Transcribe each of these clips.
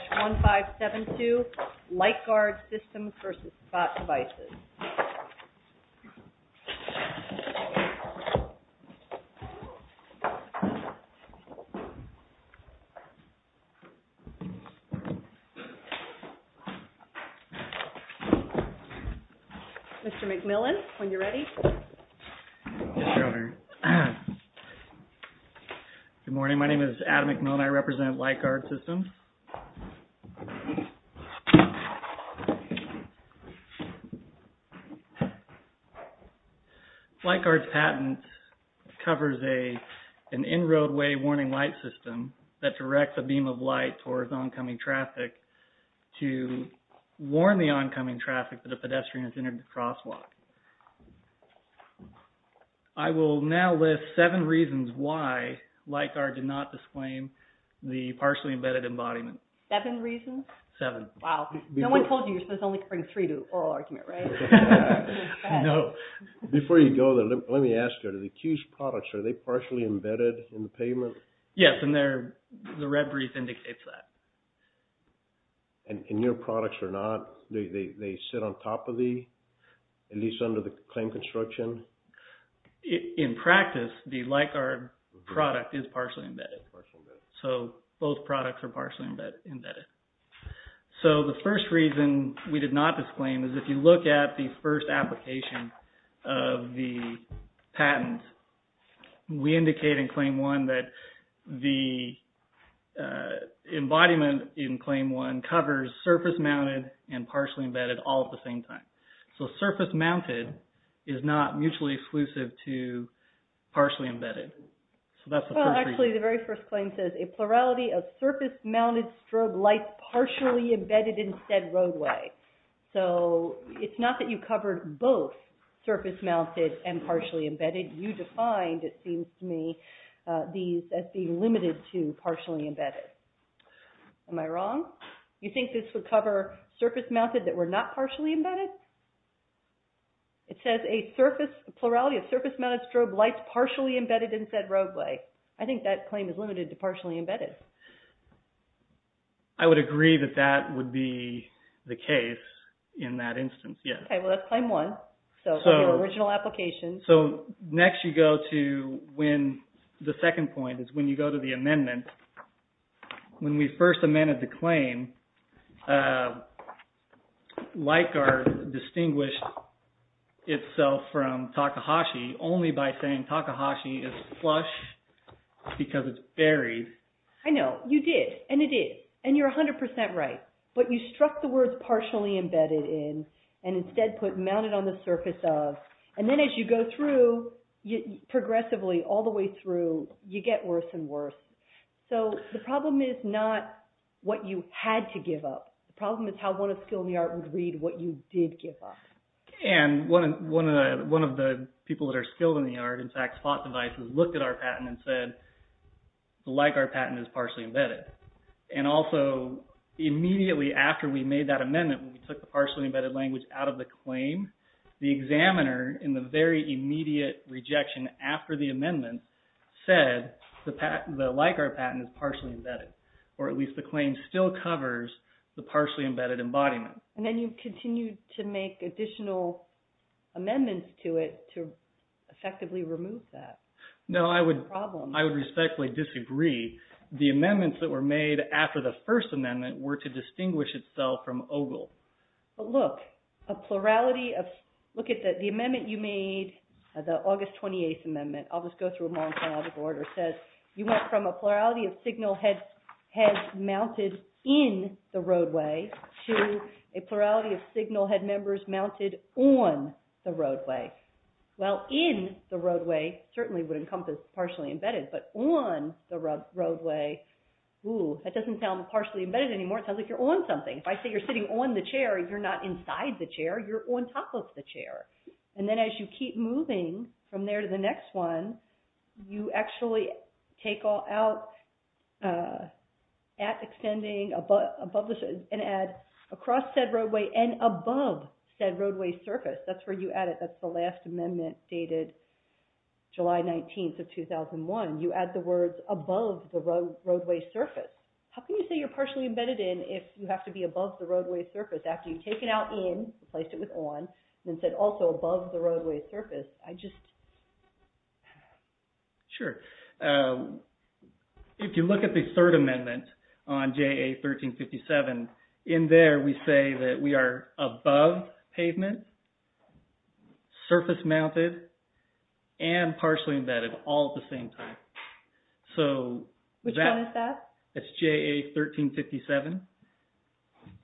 Mr. McMillan, when you're ready. Good morning. My name is Adam McMillan. I represent LIGHTGUARD SYSTEMS LIGHTGUARD SYSTEMS LIGHTGUARD's patent covers an in-roadway warning light system that directs a beam of light towards oncoming traffic to warn the oncoming traffic that a pedestrian has entered the crosswalk. I will now list seven reasons why LIGHTGUARD did not disclaim the partially embedded embodiment. Seven reasons? Seven. Wow. No one told you you're supposed to only bring three to an oral argument, right? No. Before you go, let me ask you, are the accused products, are they partially embedded in the pavement? Yes, and the red brief indicates that. And your products are not? Do they sit on top of the, at least under the claim construction? In practice, the LIGHTGUARD product is partially embedded. So both products are partially embedded. So the first reason we did not disclaim is if you look at the first application of the patent, we indicate in Claim 1 that the embodiment in Claim 1 covers surface mounted and partially embedded all at the same time. So surface mounted is not mutually exclusive to partially embedded. Well, actually, the very first claim says, a plurality of surface mounted strobe lights partially embedded in said roadway. So it's not that you covered both surface mounted and partially embedded. You defined, it seems to me, these as being limited to partially embedded. Am I wrong? You think this would cover surface mounted that were not partially embedded? It says a surface, a plurality of surface mounted strobe lights partially embedded in said roadway. I think that claim is limited to partially embedded. I would agree that that would be the case in that instance, yes. Okay, well that's Claim 1, so from the original application. So next you go to when, the second point is when you go to the amendment. When we first amended the claim, LICAR distinguished itself from Takahashi only by saying Takahashi is flush because it's buried. I know, you did, and it is, and you're 100% right. But you struck the words partially embedded in, and instead put mounted on the surface of. And then as you go through, progressively, all the way through, you get worse and worse. So the problem is not what you had to give up. The problem is how one of the skilled in the art would read what you did give up. And one of the people that are skilled in the art, in fact, fought the vice and looked at our patent and said, the LICAR patent is partially embedded. And also, immediately after we made that amendment, when we took the partially embedded language out of the claim, the examiner, in the very immediate rejection after the amendment, said the LICAR patent is partially embedded. Or at least the claim still covers the partially embedded embodiment. And then you continued to make additional amendments to it to effectively remove that. No, I would respectfully disagree. The amendments that were made after the first amendment were to distinguish itself from OGLE. But look, a plurality of, look at the amendment you made, the August 28th amendment. I'll just go through them all in chronological order. It says you went from a plurality of signal heads mounted in the roadway to a plurality of signal head members mounted on the roadway. Well, in the roadway certainly would encompass partially embedded. But on the roadway, ooh, that doesn't sound partially embedded anymore. It sounds like you're on something. If I say you're sitting on the chair, you're not inside the chair. You're on top of the chair. And then as you keep moving from there to the next one, you actually take out at extending above the, and add across said roadway and above said roadway surface. That's where you add it. That's the last amendment dated July 19th of 2001. You add the words above the roadway surface. How can you say you're partially embedded in if you have to be above the roadway surface? After you take it out in, replaced it with on, and then said also above the roadway surface. Sure. If you look at the third amendment on JA1357, in there we say that we are above pavement, surface mounted, and partially embedded all at the same time. Which one is that? That's JA1357.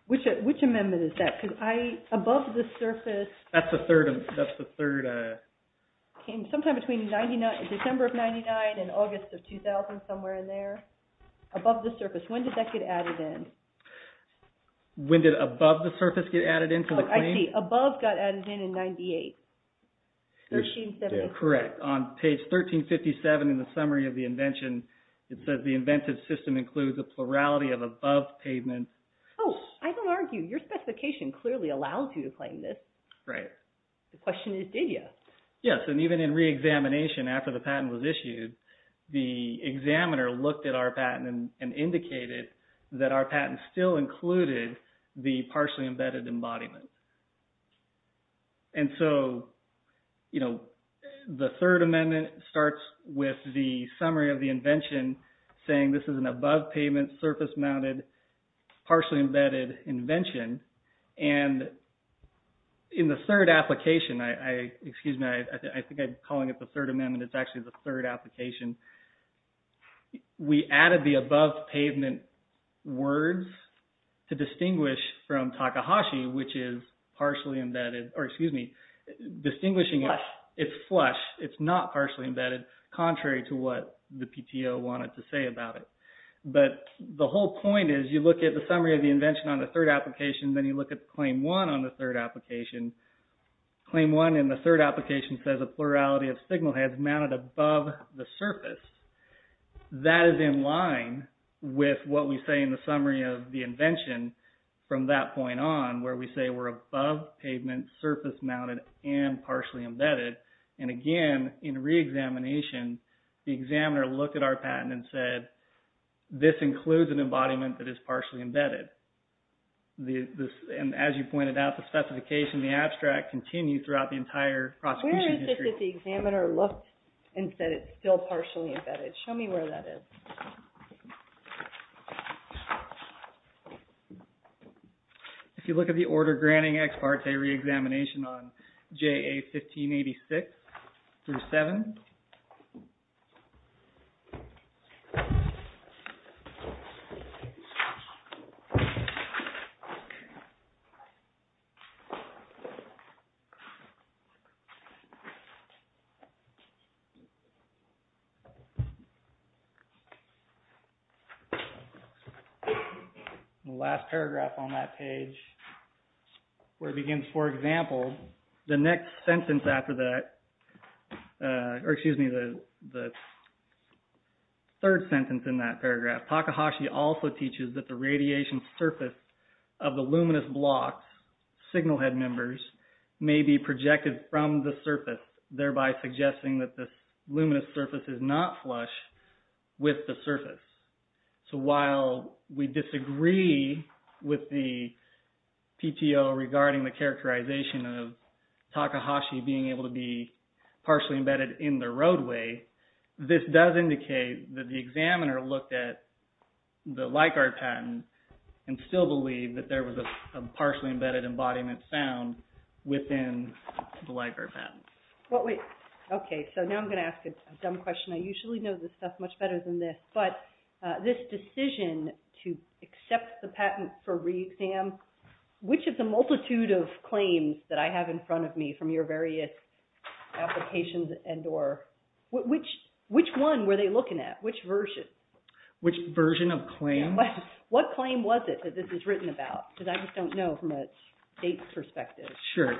Which amendment is that? Because above the surface... That's the third... Sometime between December of 99 and August of 2000, somewhere in there. Above the surface. When did that get added in? When did above the surface get added into the claim? I see. Above got added in in 98. Correct. On page 1357 in the summary of the invention, it says the inventive system includes a plurality of above pavement. Oh, I don't argue. Your specification clearly allows you to claim this. Right. The question is, did you? Yes, and even in re-examination after the patent was issued, the examiner looked at our patent and indicated that our patent still included the partially embedded embodiment. The third amendment starts with the summary of the invention saying this is an above pavement, surface mounted, partially embedded invention. In the third application... Excuse me. I think I'm calling it the third amendment. It's actually the third application. We added the above pavement words to distinguish from Takahashi, which is partially embedded. Excuse me. Distinguishing... It's flush. It's flush. It's not partially embedded, contrary to what the PTO wanted to say about it. The whole point is you look at the summary of the invention on the third application, then you look at claim one on the third application. Claim one in the third application says a plurality of signal heads mounted above the surface. That is in line with what we say in the summary of the invention from that point on where we say we're above pavement, surface mounted, and partially embedded. Again, in re-examination, the examiner looked at our patent and said this includes an embodiment that is partially embedded. As you pointed out, the specification, the abstract, continues throughout the entire prosecution history. Where is it that the examiner looked and said it's still partially embedded? Show me where that is. If you look at the order granting ex parte re-examination on JA 1586-7... The last paragraph on that page where it begins, for example, the next sentence after that... Or excuse me, the third sentence in that paragraph. Takahashi also teaches that the radiation surface of the luminous blocks, signal head members, may be projected from the surface, thereby suggesting that the luminous surface is not flush with the surface. While we disagree with the PTO regarding the characterization of Takahashi being able to be partially embedded in the roadway, this does indicate that the examiner looked at the Leichhardt patent and still believed that there was a partially embedded embodiment found within the Leichhardt patent. Okay, so now I'm going to ask a dumb question. I usually know this stuff much better than this, but this decision to accept the patent for re-exam, which of the multitude of claims that I have in front of me from your various applications, which one were they looking at? Which version? Which version of claims? What claim was it that this is written about? Because I just don't know from a date perspective. Sure,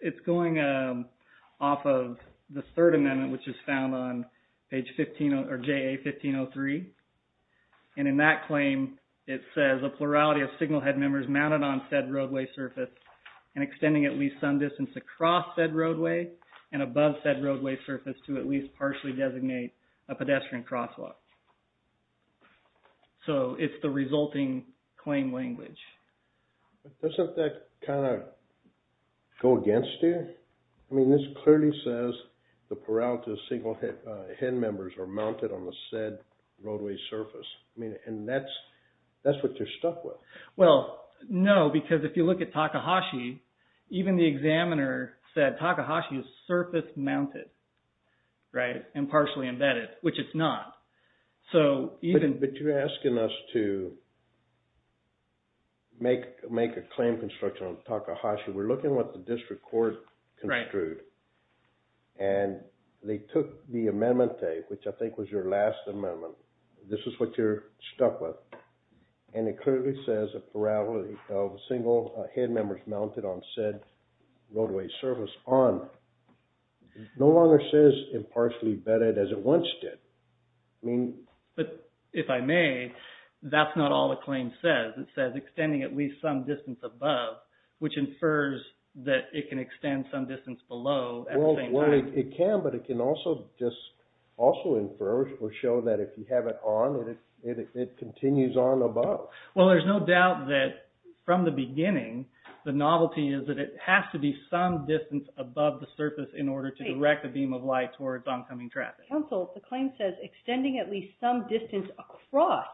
it's going off of the third amendment, which is found on page 15, or JA 1503. And in that claim, it says, a plurality of signal head members mounted on said roadway surface and extending at least some distance across said roadway and above said roadway surface to at least partially designate a pedestrian crosswalk. So it's the resulting claim language. Doesn't that kind of go against you? I mean, this clearly says the plurality of signal head members are mounted on the said roadway surface. I mean, and that's what you're stuck with. Well, no, because if you look at Takahashi, even the examiner said Takahashi is surface mounted, right, and partially embedded, which it's not. But you're asking us to make a claim construction on Takahashi. We're looking at what the district court construed. And they took the amendment, which I think was your last amendment. This is what you're stuck with. And it clearly says a plurality of signal head members mounted on said roadway surface on. It no longer says impartially embedded as it once did. But if I may, that's not all the claim says. It says extending at least some distance above, which infers that it can extend some distance below at the same time. Well, it can, but it can also just also infer or show that if you have it on, it continues on above. Well, there's no doubt that from the beginning, the novelty is that it has to be some distance above the surface in order to direct the beam of light towards oncoming traffic. Counsel, the claim says extending at least some distance across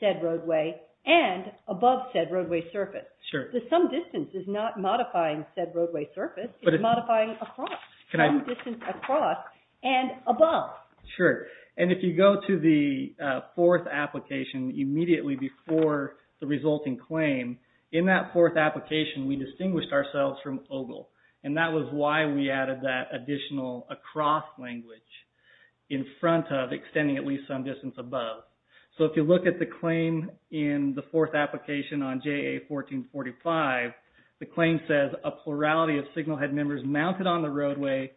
said roadway and above said roadway surface. Sure. The some distance is not modifying said roadway surface, but it's modifying across. Can I? Some distance across and above. Sure. And if you go to the fourth application immediately before the resulting claim, in that fourth application, we distinguished ourselves from Ogle. And that was why we added that additional across language in front of extending at least some distance above. So if you look at the claim in the fourth application on JA1445, the claim says a plurality of signal head members mounted on the roadway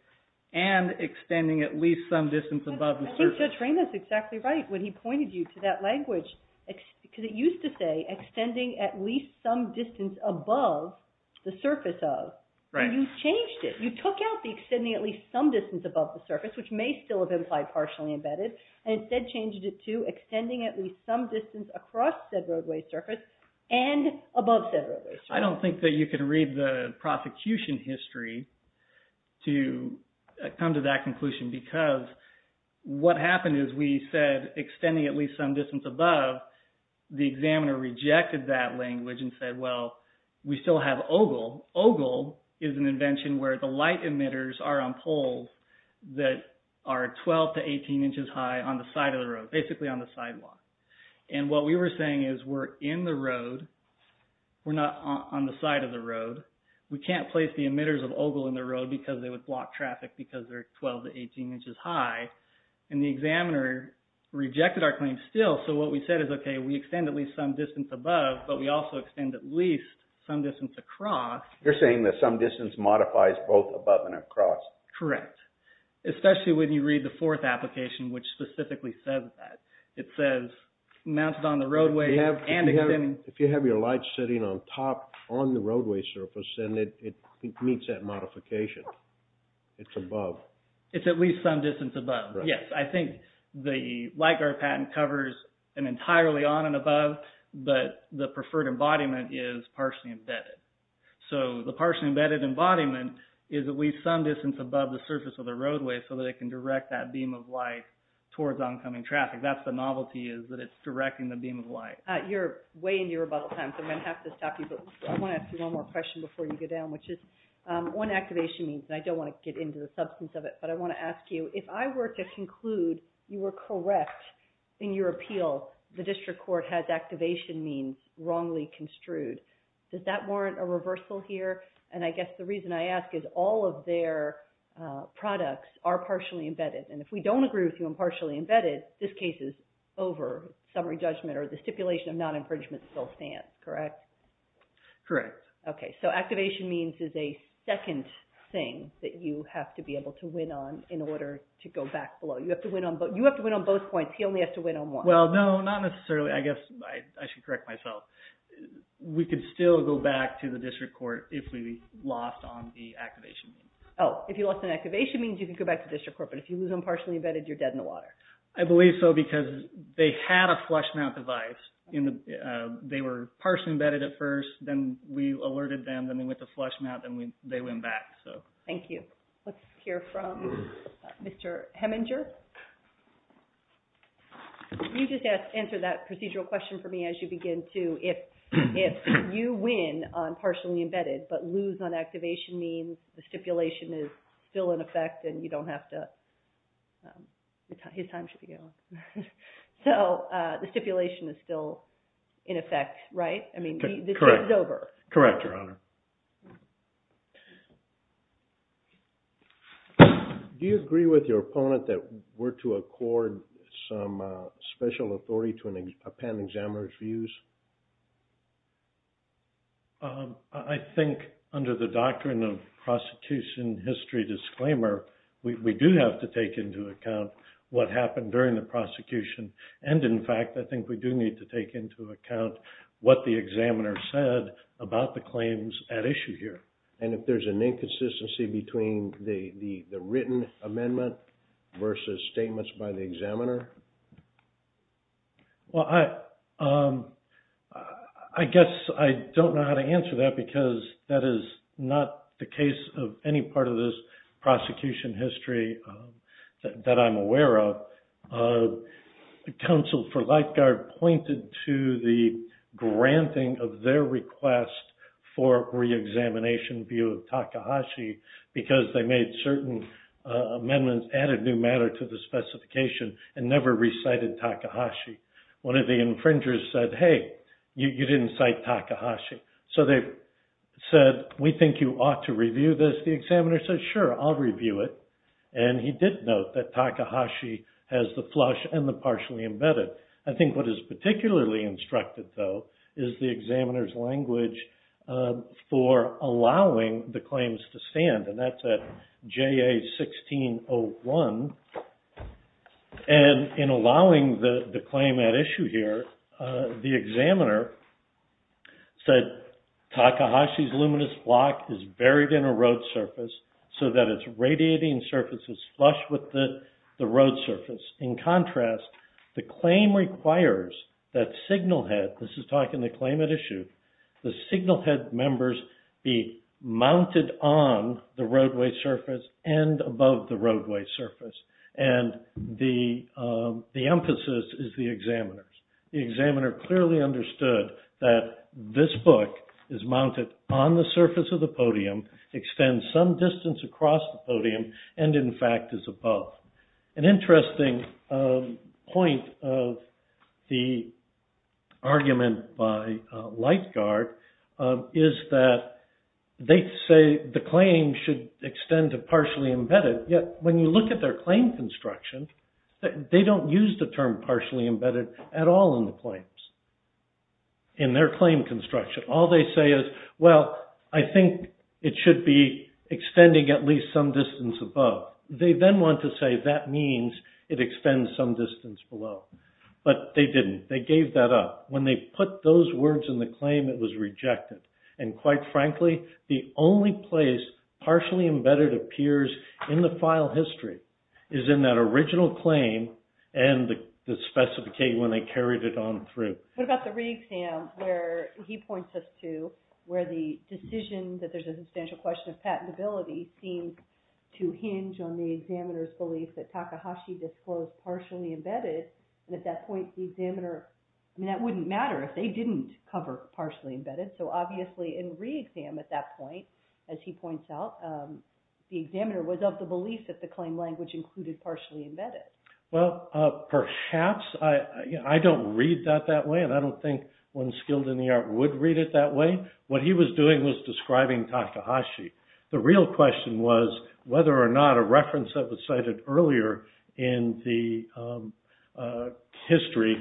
and extending at least some distance above the surface. Judge Raymond is exactly right when he pointed you to that language. Because it used to say extending at least some distance above the surface of. Right. And you changed it. You took out the extending at least some distance above the surface, which may still have implied partially embedded, and instead changed it to extending at least some distance across said roadway surface and above said roadway surface. I don't think that you can read the prosecution history to come to that conclusion. Because what happened is we said extending at least some distance above, the examiner rejected that language and said, well, we still have Ogle. Ogle is an invention where the light emitters are on poles that are 12 to 18 inches high on the side of the road, basically on the sidewalk. And what we were saying is we're in the road. We're not on the side of the road. We can't place the emitters of Ogle in the road because they would block traffic because they're 12 to 18 inches high. And the examiner rejected our claim still. So what we said is, okay, we extend at least some distance above, but we also extend at least some distance across. You're saying that some distance modifies both above and across. Correct. Especially when you read the fourth application, which specifically says that. It says mounted on the roadway and extending. If you have your light sitting on top on the roadway surface, then it meets that modification. It's above. It's at least some distance above. Yes, I think the light guard patent covers an entirely on and above, but the preferred embodiment is partially embedded. So the partially embedded embodiment is at least some distance above the surface of the roadway so that it can direct that beam of light towards oncoming traffic. That's the novelty is that it's directing the beam of light. You're way into your rebuttal time, so I'm going to have to stop you. But I want to ask you one more question before you go down, which is one activation means, and I don't want to get into the substance of it, but I want to ask you, if I were to conclude you were correct in your appeal, the district court has activation means wrongly construed, does that warrant a reversal here? And I guess the reason I ask is all of their products are partially embedded. And if we don't agree with you on partially embedded, this case is over. Summary judgment or the stipulation of non-infringement still stands, correct? Correct. Okay, so activation means is a second thing that you have to be able to win on in order to go back below. You have to win on both points. He only has to win on one. Well, no, not necessarily. I guess I should correct myself. We could still go back to the district court if we lost on the activation means. Oh, if you lost on activation means, you could go back to district court, but if you lose on partially embedded, you're dead in the water. I believe so because they had a flush mount device. They were partially embedded at first, then we alerted them, then they went to flush mount, then they went back. Thank you. Let's hear from Mr. Heminger. You just answered that procedural question for me as you begin to. If you win on partially embedded but lose on activation means the stipulation is still in effect and you don't have to – his time should be going. So the stipulation is still in effect, right? I mean, this is over. Correct, Your Honor. Do you agree with your opponent that we're to accord some special authority to append examiner's views? I think under the doctrine of prosecution history disclaimer, we do have to take into account what happened during the prosecution. And in fact, I think we do need to take into account what the examiner said about the claims at issue here. And if there's an inconsistency between the written amendment versus statements by the examiner? Well, I guess I don't know how to answer that because that is not the case of any part of this prosecution history that I'm aware of. Counsel for Lifeguard pointed to the granting of their request for reexamination view of Takahashi because they made certain amendments, added new matter to the specification and never recited Takahashi. One of the infringers said, hey, you didn't cite Takahashi. So they said, we think you ought to review this. The examiner said, sure, I'll review it. And he did note that Takahashi has the flush and the partially embedded. I think what is particularly instructed, though, is the examiner's language for allowing the claims to stand. And that's at JA-1601. And in allowing the claim at issue here, the examiner said Takahashi's luminous block is buried in a road surface so that its radiating surface is flush with the road surface. In contrast, the claim requires that signal head, this is talking the claim at issue, the signal head members be mounted on the roadway surface and above the roadway surface. And the emphasis is the examiner's. The examiner clearly understood that this book is mounted on the surface of the podium, extends some distance across the podium, and in fact is above. An interesting point of the argument by Lightgard is that they say the claim should extend to partially embedded. Yet when you look at their claim construction, they don't use the term partially embedded at all in the claims, in their claim construction. All they say is, well, I think it should be extending at least some distance above. They then want to say that means it extends some distance below. But they didn't. They gave that up. When they put those words in the claim, it was rejected. And quite frankly, the only place partially embedded appears in the file history is in that original claim and the specification when they carried it on through. What about the re-exam where he points us to where the decision that there's a substantial question of patentability seems to hinge on the examiner's belief that Takahashi disclosed partially embedded. And at that point, the examiner, I mean, that wouldn't matter if they didn't cover partially embedded. So obviously in re-exam at that point, as he points out, the examiner was of the belief that the claim language included partially embedded. Well, perhaps. I don't read that that way. And I don't think one skilled in the art would read it that way. What he was doing was describing Takahashi. The real question was whether or not a reference that was cited earlier in the history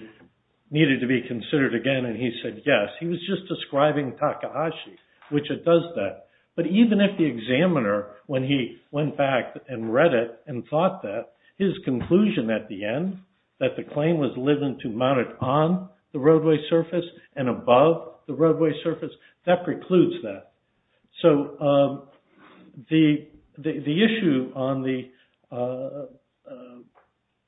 needed to be considered again. And he said yes. He was just describing Takahashi, which it does that. But even if the examiner, when he went back and read it and thought that, his conclusion at the end, that the claim was limited to mounted on the roadway surface and above the roadway surface, that precludes that. So the issue on the,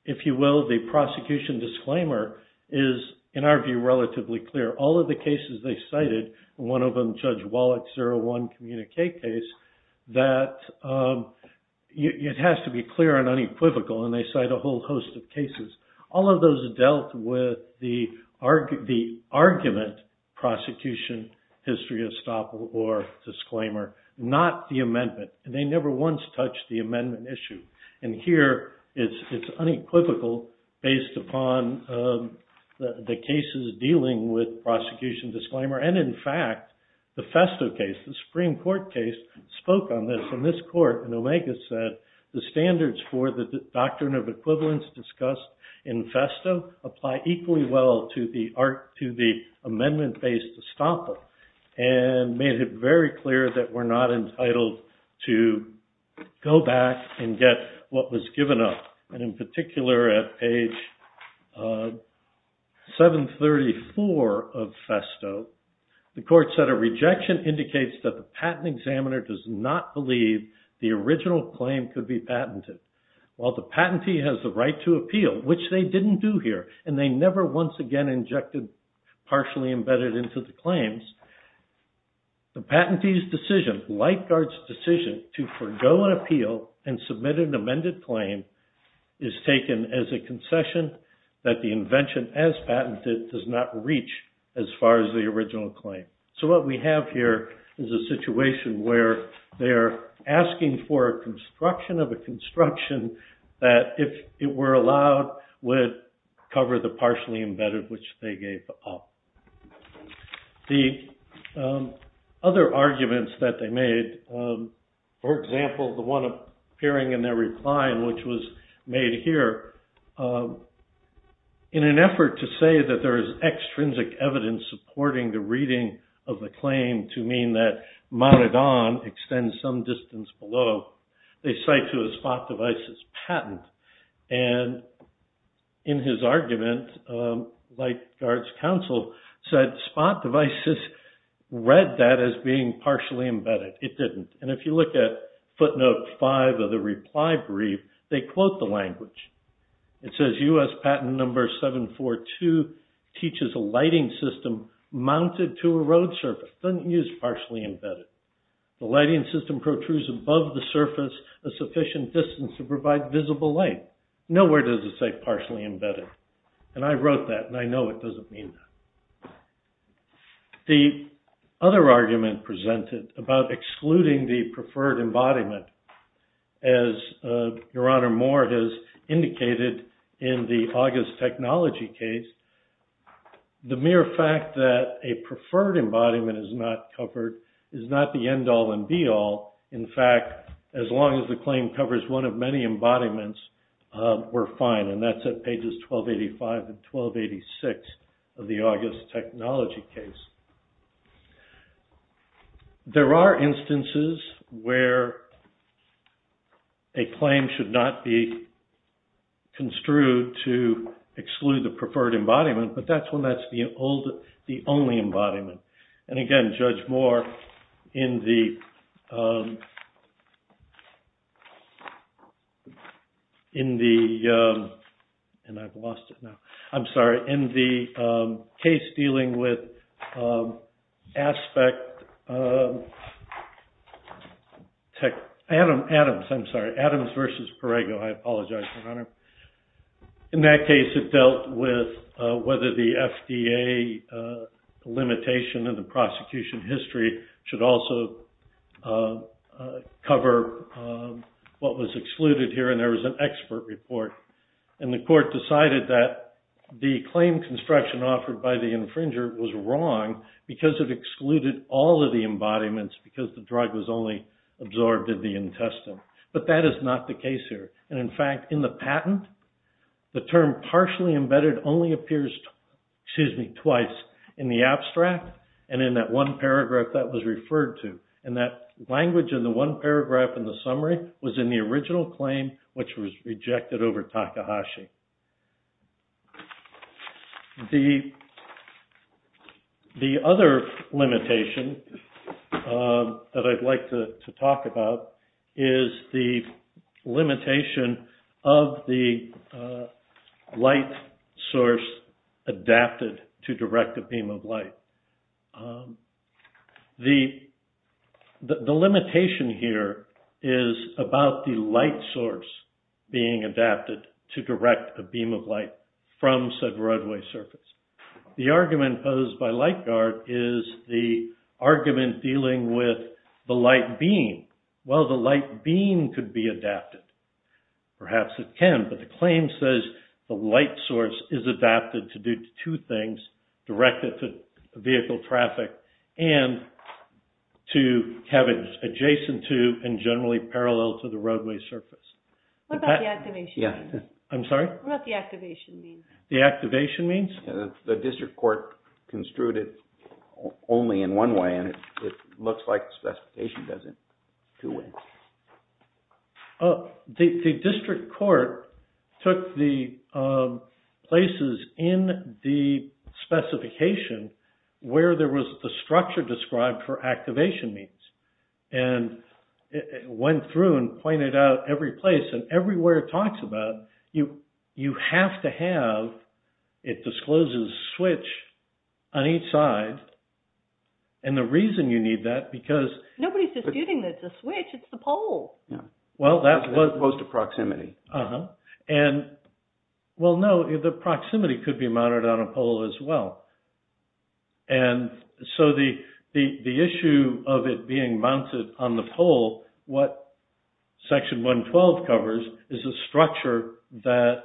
if you will, the prosecution disclaimer is, in our view, relatively clear. All of the cases they cited, one of them Judge Wallach's 01 communique case, that it has to be clear and unequivocal. And they cite a whole host of cases. All of those dealt with the argument prosecution history estoppel or disclaimer, not the amendment. And they never once touched the amendment issue. And here it's unequivocal based upon the cases dealing with prosecution disclaimer. And in fact, the Festo case, the Supreme Court case, spoke on this. And this court in Omega said, the standards for the doctrine of equivalence discussed in Festo apply equally well to the amendment-based estoppel. And made it very clear that we're not entitled to go back and get what was given up. And in particular, at page 734 of Festo, the court said, a rejection indicates that the patent examiner does not believe the original claim could be patented. While the patentee has the right to appeal, which they didn't do here, and they never once again injected partially embedded into the claims, the patentee's decision, Lightguard's decision, to forego an appeal and submit an amended claim is taken as a concession that the invention as patented does not reach as far as the original claim. So what we have here is a situation where they're asking for a construction of a construction that, if it were allowed, would cover the partially embedded which they gave up. The other arguments that they made, for example, the one appearing in their reply, which was made here, in an effort to say that there is extrinsic evidence supporting the reading of the claim to mean that mounted on extends some distance below, they cite to a Spot Devices patent. And in his argument, Lightguard's counsel said Spot Devices read that as being partially embedded. It didn't. And if you look at footnote 5 of the reply brief, they quote the language. It says, U.S. patent number 742 teaches a lighting system mounted to a road surface. Doesn't use partially embedded. The lighting system protrudes above the surface a sufficient distance to provide visible light. Nowhere does it say partially embedded. And I wrote that, and I know it doesn't mean that. The other argument presented about excluding the preferred embodiment, as Your Honor Moore has indicated in the August Technology case, the mere fact that a preferred embodiment is not covered is not the end all and be all. In fact, as long as the claim covers one of many embodiments, we're fine. And that's at pages 1285 and 1286 of the August Technology case. There are instances where a claim should not be construed to exclude the preferred embodiment, but that's when that's the only embodiment. And again, Judge Moore, in the case dealing with aspect, Adams versus Parego, I apologize, Your Honor. In that case, it dealt with whether the FDA limitation in the prosecution history should also cover what was excluded here, and there was an expert report. And the court decided that the claim construction offered by the infringer was wrong because it excluded all of the embodiments because the drug was only absorbed in the intestine. But that is not the case here. And in fact, in the patent, the term partially embedded only appears twice in the abstract and in that one paragraph that was referred to. And that language in the one paragraph in the summary was in the original claim, which was rejected over Takahashi. The other limitation that I'd like to talk about is the limitation of the light source adapted to direct a beam of light. The limitation here is about the light source being adapted to direct a beam of light from said roadway surface. The argument posed by Lightguard is the argument dealing with the light beam. Well, the light beam could be adapted. Perhaps it can, but the claim says the light source is adapted to do two things, direct it to vehicle traffic and to have it adjacent to and generally parallel to the roadway surface. What about the activation? I'm sorry? What about the activation means? The activation means? The district court construed it only in one way, and it looks like the specification does it two ways. The district court took the places in the specification where there was the structure described for activation means and went through and pointed out every place and everywhere it talks about you have to have it discloses switch on each side. And the reason you need that because... Nobody's disputing that it's a switch, it's the pole. Well, that was... As opposed to proximity. Uh-huh. And, well, no, the proximity could be mounted on a pole as well. And so the issue of it being mounted on the pole, what Section 112 covers is a structure that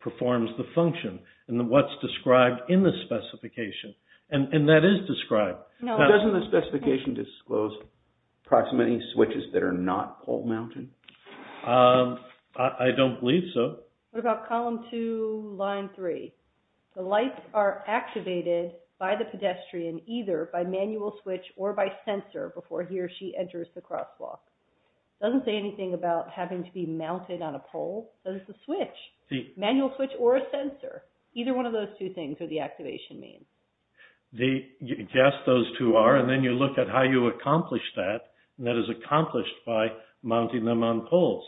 performs the function and what's described in the specification. And that is described. Now, doesn't the specification disclose proximity switches that are not pole mounted? I don't believe so. What about Column 2, Line 3? The lights are activated by the pedestrian either by manual switch or by sensor before he or she enters the crosswalk. It doesn't say anything about having to be mounted on a pole. It's a switch, manual switch or a sensor. Either one of those two things are the activation means. Yes, those two are. And then you look at how you accomplish that. And that is accomplished by mounting them on poles.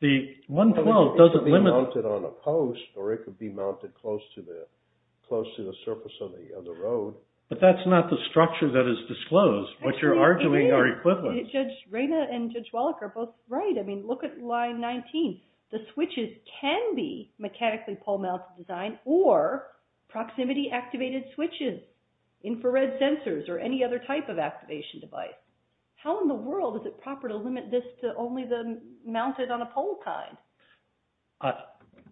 The 112 doesn't limit... It could be mounted on a post or it could be mounted close to the surface of the road. But that's not the structure that is disclosed. What you're arguing are equivalent. Judge Rayna and Judge Wallach are both right. I mean, look at Line 19. The switches can be mechanically pole-mounted design or proximity-activated switches, infrared sensors, or any other type of activation device. How in the world is it proper to limit this to only the mounted-on-a-pole kind?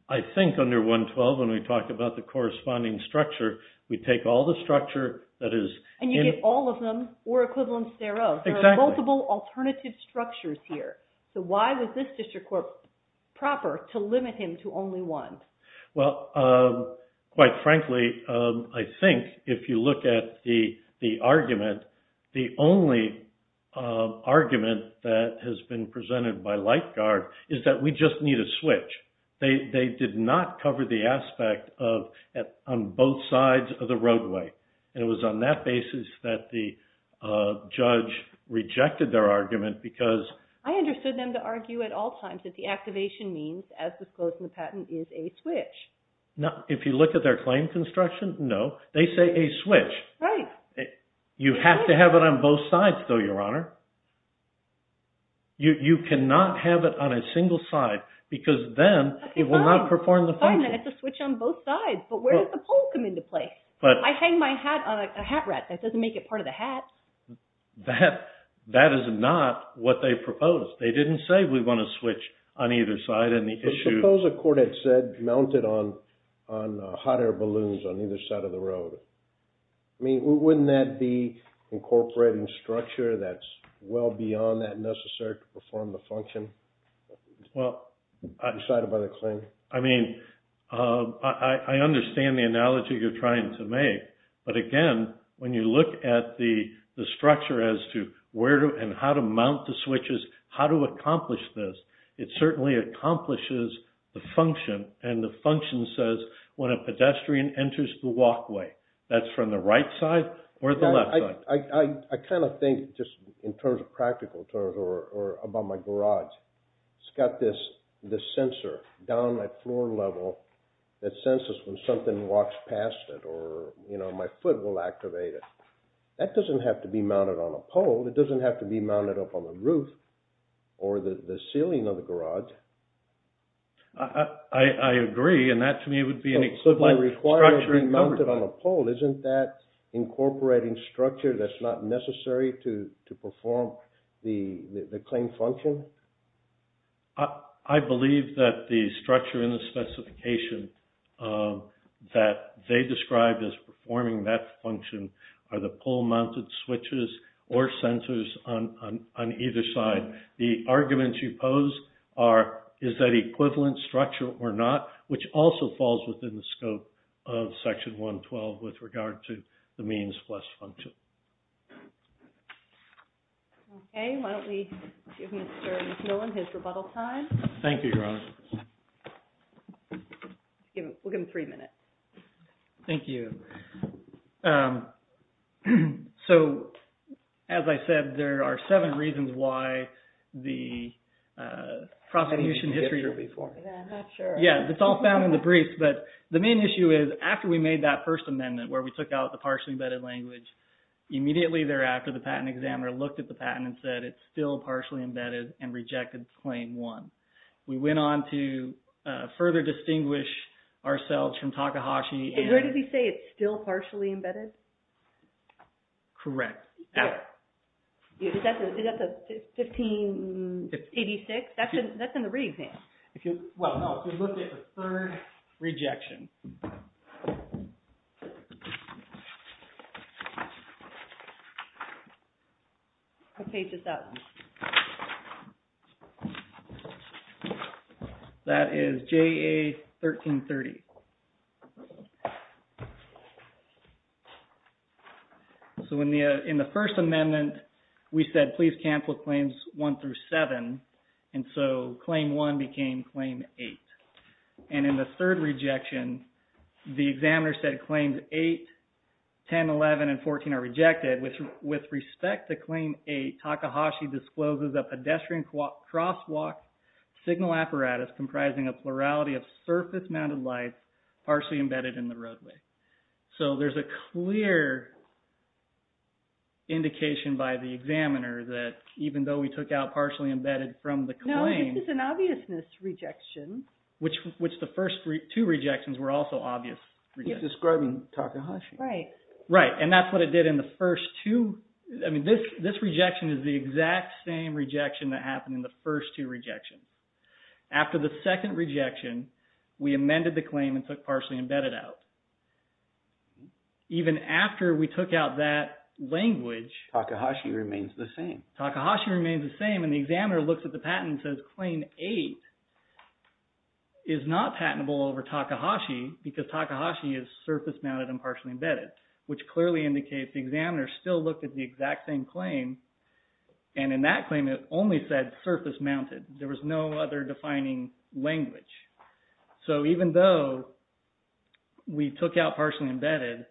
I think under 112, when we talk about the corresponding structure, we take all the structure that is in... And you get all of them or equivalents thereof. Exactly. There are multiple alternative structures here. So why was this district court proper to limit him to only one? Well, quite frankly, I think if you look at the argument, the only argument that has been presented by Light Guard is that we just need a switch. They did not cover the aspect on both sides of the roadway. And it was on that basis that the judge rejected their argument because... I understood them to argue at all times that the activation means, as disclosed in the patent, is a switch. If you look at their claim construction, no. They say a switch. Right. You have to have it on both sides, though, Your Honor. You cannot have it on a single side because then it will not perform the function. Fine, then it's a switch on both sides. But where does the pole come into play? I hang my hat on a hat rack. That doesn't make it part of the hat. That is not what they proposed. They didn't say we want a switch on either side and the issue... But suppose a court had said mount it on hot air balloons on either side of the road. I mean, wouldn't that be incorporating structure that's well beyond that necessary to perform the function? Well... Decided by the claim. I mean, I understand the analogy you're trying to make. But, again, when you look at the structure as to where and how to mount the switches, how to accomplish this, it certainly accomplishes the function. And the function says when a pedestrian enters the walkway, that's from the right side or the left side. I kind of think just in terms of practical terms or about my garage. It's got this sensor down at floor level that senses when something walks past it or, you know, my foot will activate it. That doesn't have to be mounted on a pole. It doesn't have to be mounted up on the roof or the ceiling of the garage. I agree. And that to me would be an equivalent structuring... Well, isn't that incorporating structure that's not necessary to perform the claim function? I believe that the structure in the specification that they described as performing that function are the pole-mounted switches or sensors on either side. The arguments you pose are, is that equivalent structure or not? Which also falls within the scope of Section 112 with regard to the means plus function. Okay. Why don't we give Mr. McMillan his rebuttal time. Thank you, Your Honor. We'll give him three minutes. Thank you. So, as I said, there are seven reasons why the prosecution history... Yeah, I'm not sure. Yeah, it's all found in the briefs. But the main issue is after we made that first amendment where we took out the partially embedded language, immediately thereafter the patent examiner looked at the patent and said it's still partially embedded and rejected Claim 1. We went on to further distinguish ourselves from Takahashi and... Where did he say it's still partially embedded? Correct. Is that the 1586? That's in the re-exam. Well, no. If you look at the third rejection. I'll page this up. That is JA 1330. So, in the first amendment, we said please cancel Claims 1 through 7. And so, Claim 1 became Claim 8. And in the third rejection, the examiner said Claims 8, 10, 11, and 14 are rejected. With respect to Claim 8, Takahashi discloses a pedestrian crosswalk signal apparatus comprising a plurality of surface-mounted lights partially embedded in the roadway. So, there's a clear indication by the examiner that even though we took out partially embedded from the claim... No, this is an obviousness rejection. Which the first two rejections were also obvious rejections. He's describing Takahashi. Right. Right. And that's what it did in the first two. I mean, this rejection is the exact same rejection that happened in the first two rejections. After the second rejection, we amended the claim and took partially embedded out. Even after we took out that language... Takahashi remains the same. Takahashi remains the same. And the examiner looks at the patent and says Claim 8 is not patentable over Takahashi because Takahashi is surface-mounted and partially embedded. Which clearly indicates the examiner still looked at the exact same claim. And in that claim, it only said surface-mounted. There was no other defining language. So, even though we took out partially embedded,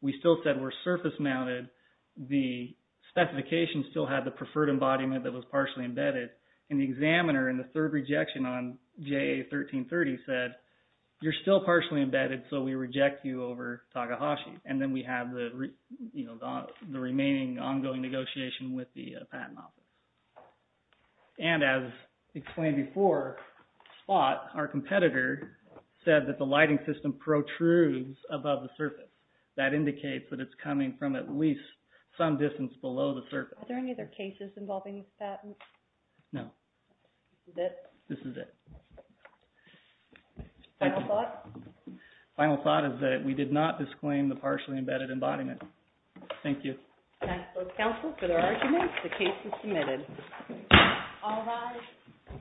we still said we're surface-mounted. The specification still had the preferred embodiment that was partially embedded. And the examiner in the third rejection on JA 1330 said, you're still partially embedded, so we reject you over Takahashi. And then we have the remaining ongoing negotiation with the patent office. And as explained before, SPOT, our competitor, said that the lighting system protrudes above the surface. That indicates that it's coming from at least some distance below the surface. Are there any other cases involving this patent? No. This is it? This is it. Final thought? Final thought is that we did not disclaim the partially embedded embodiment. Thank you. That concludes counsel for their arguments. The case is submitted. All rise.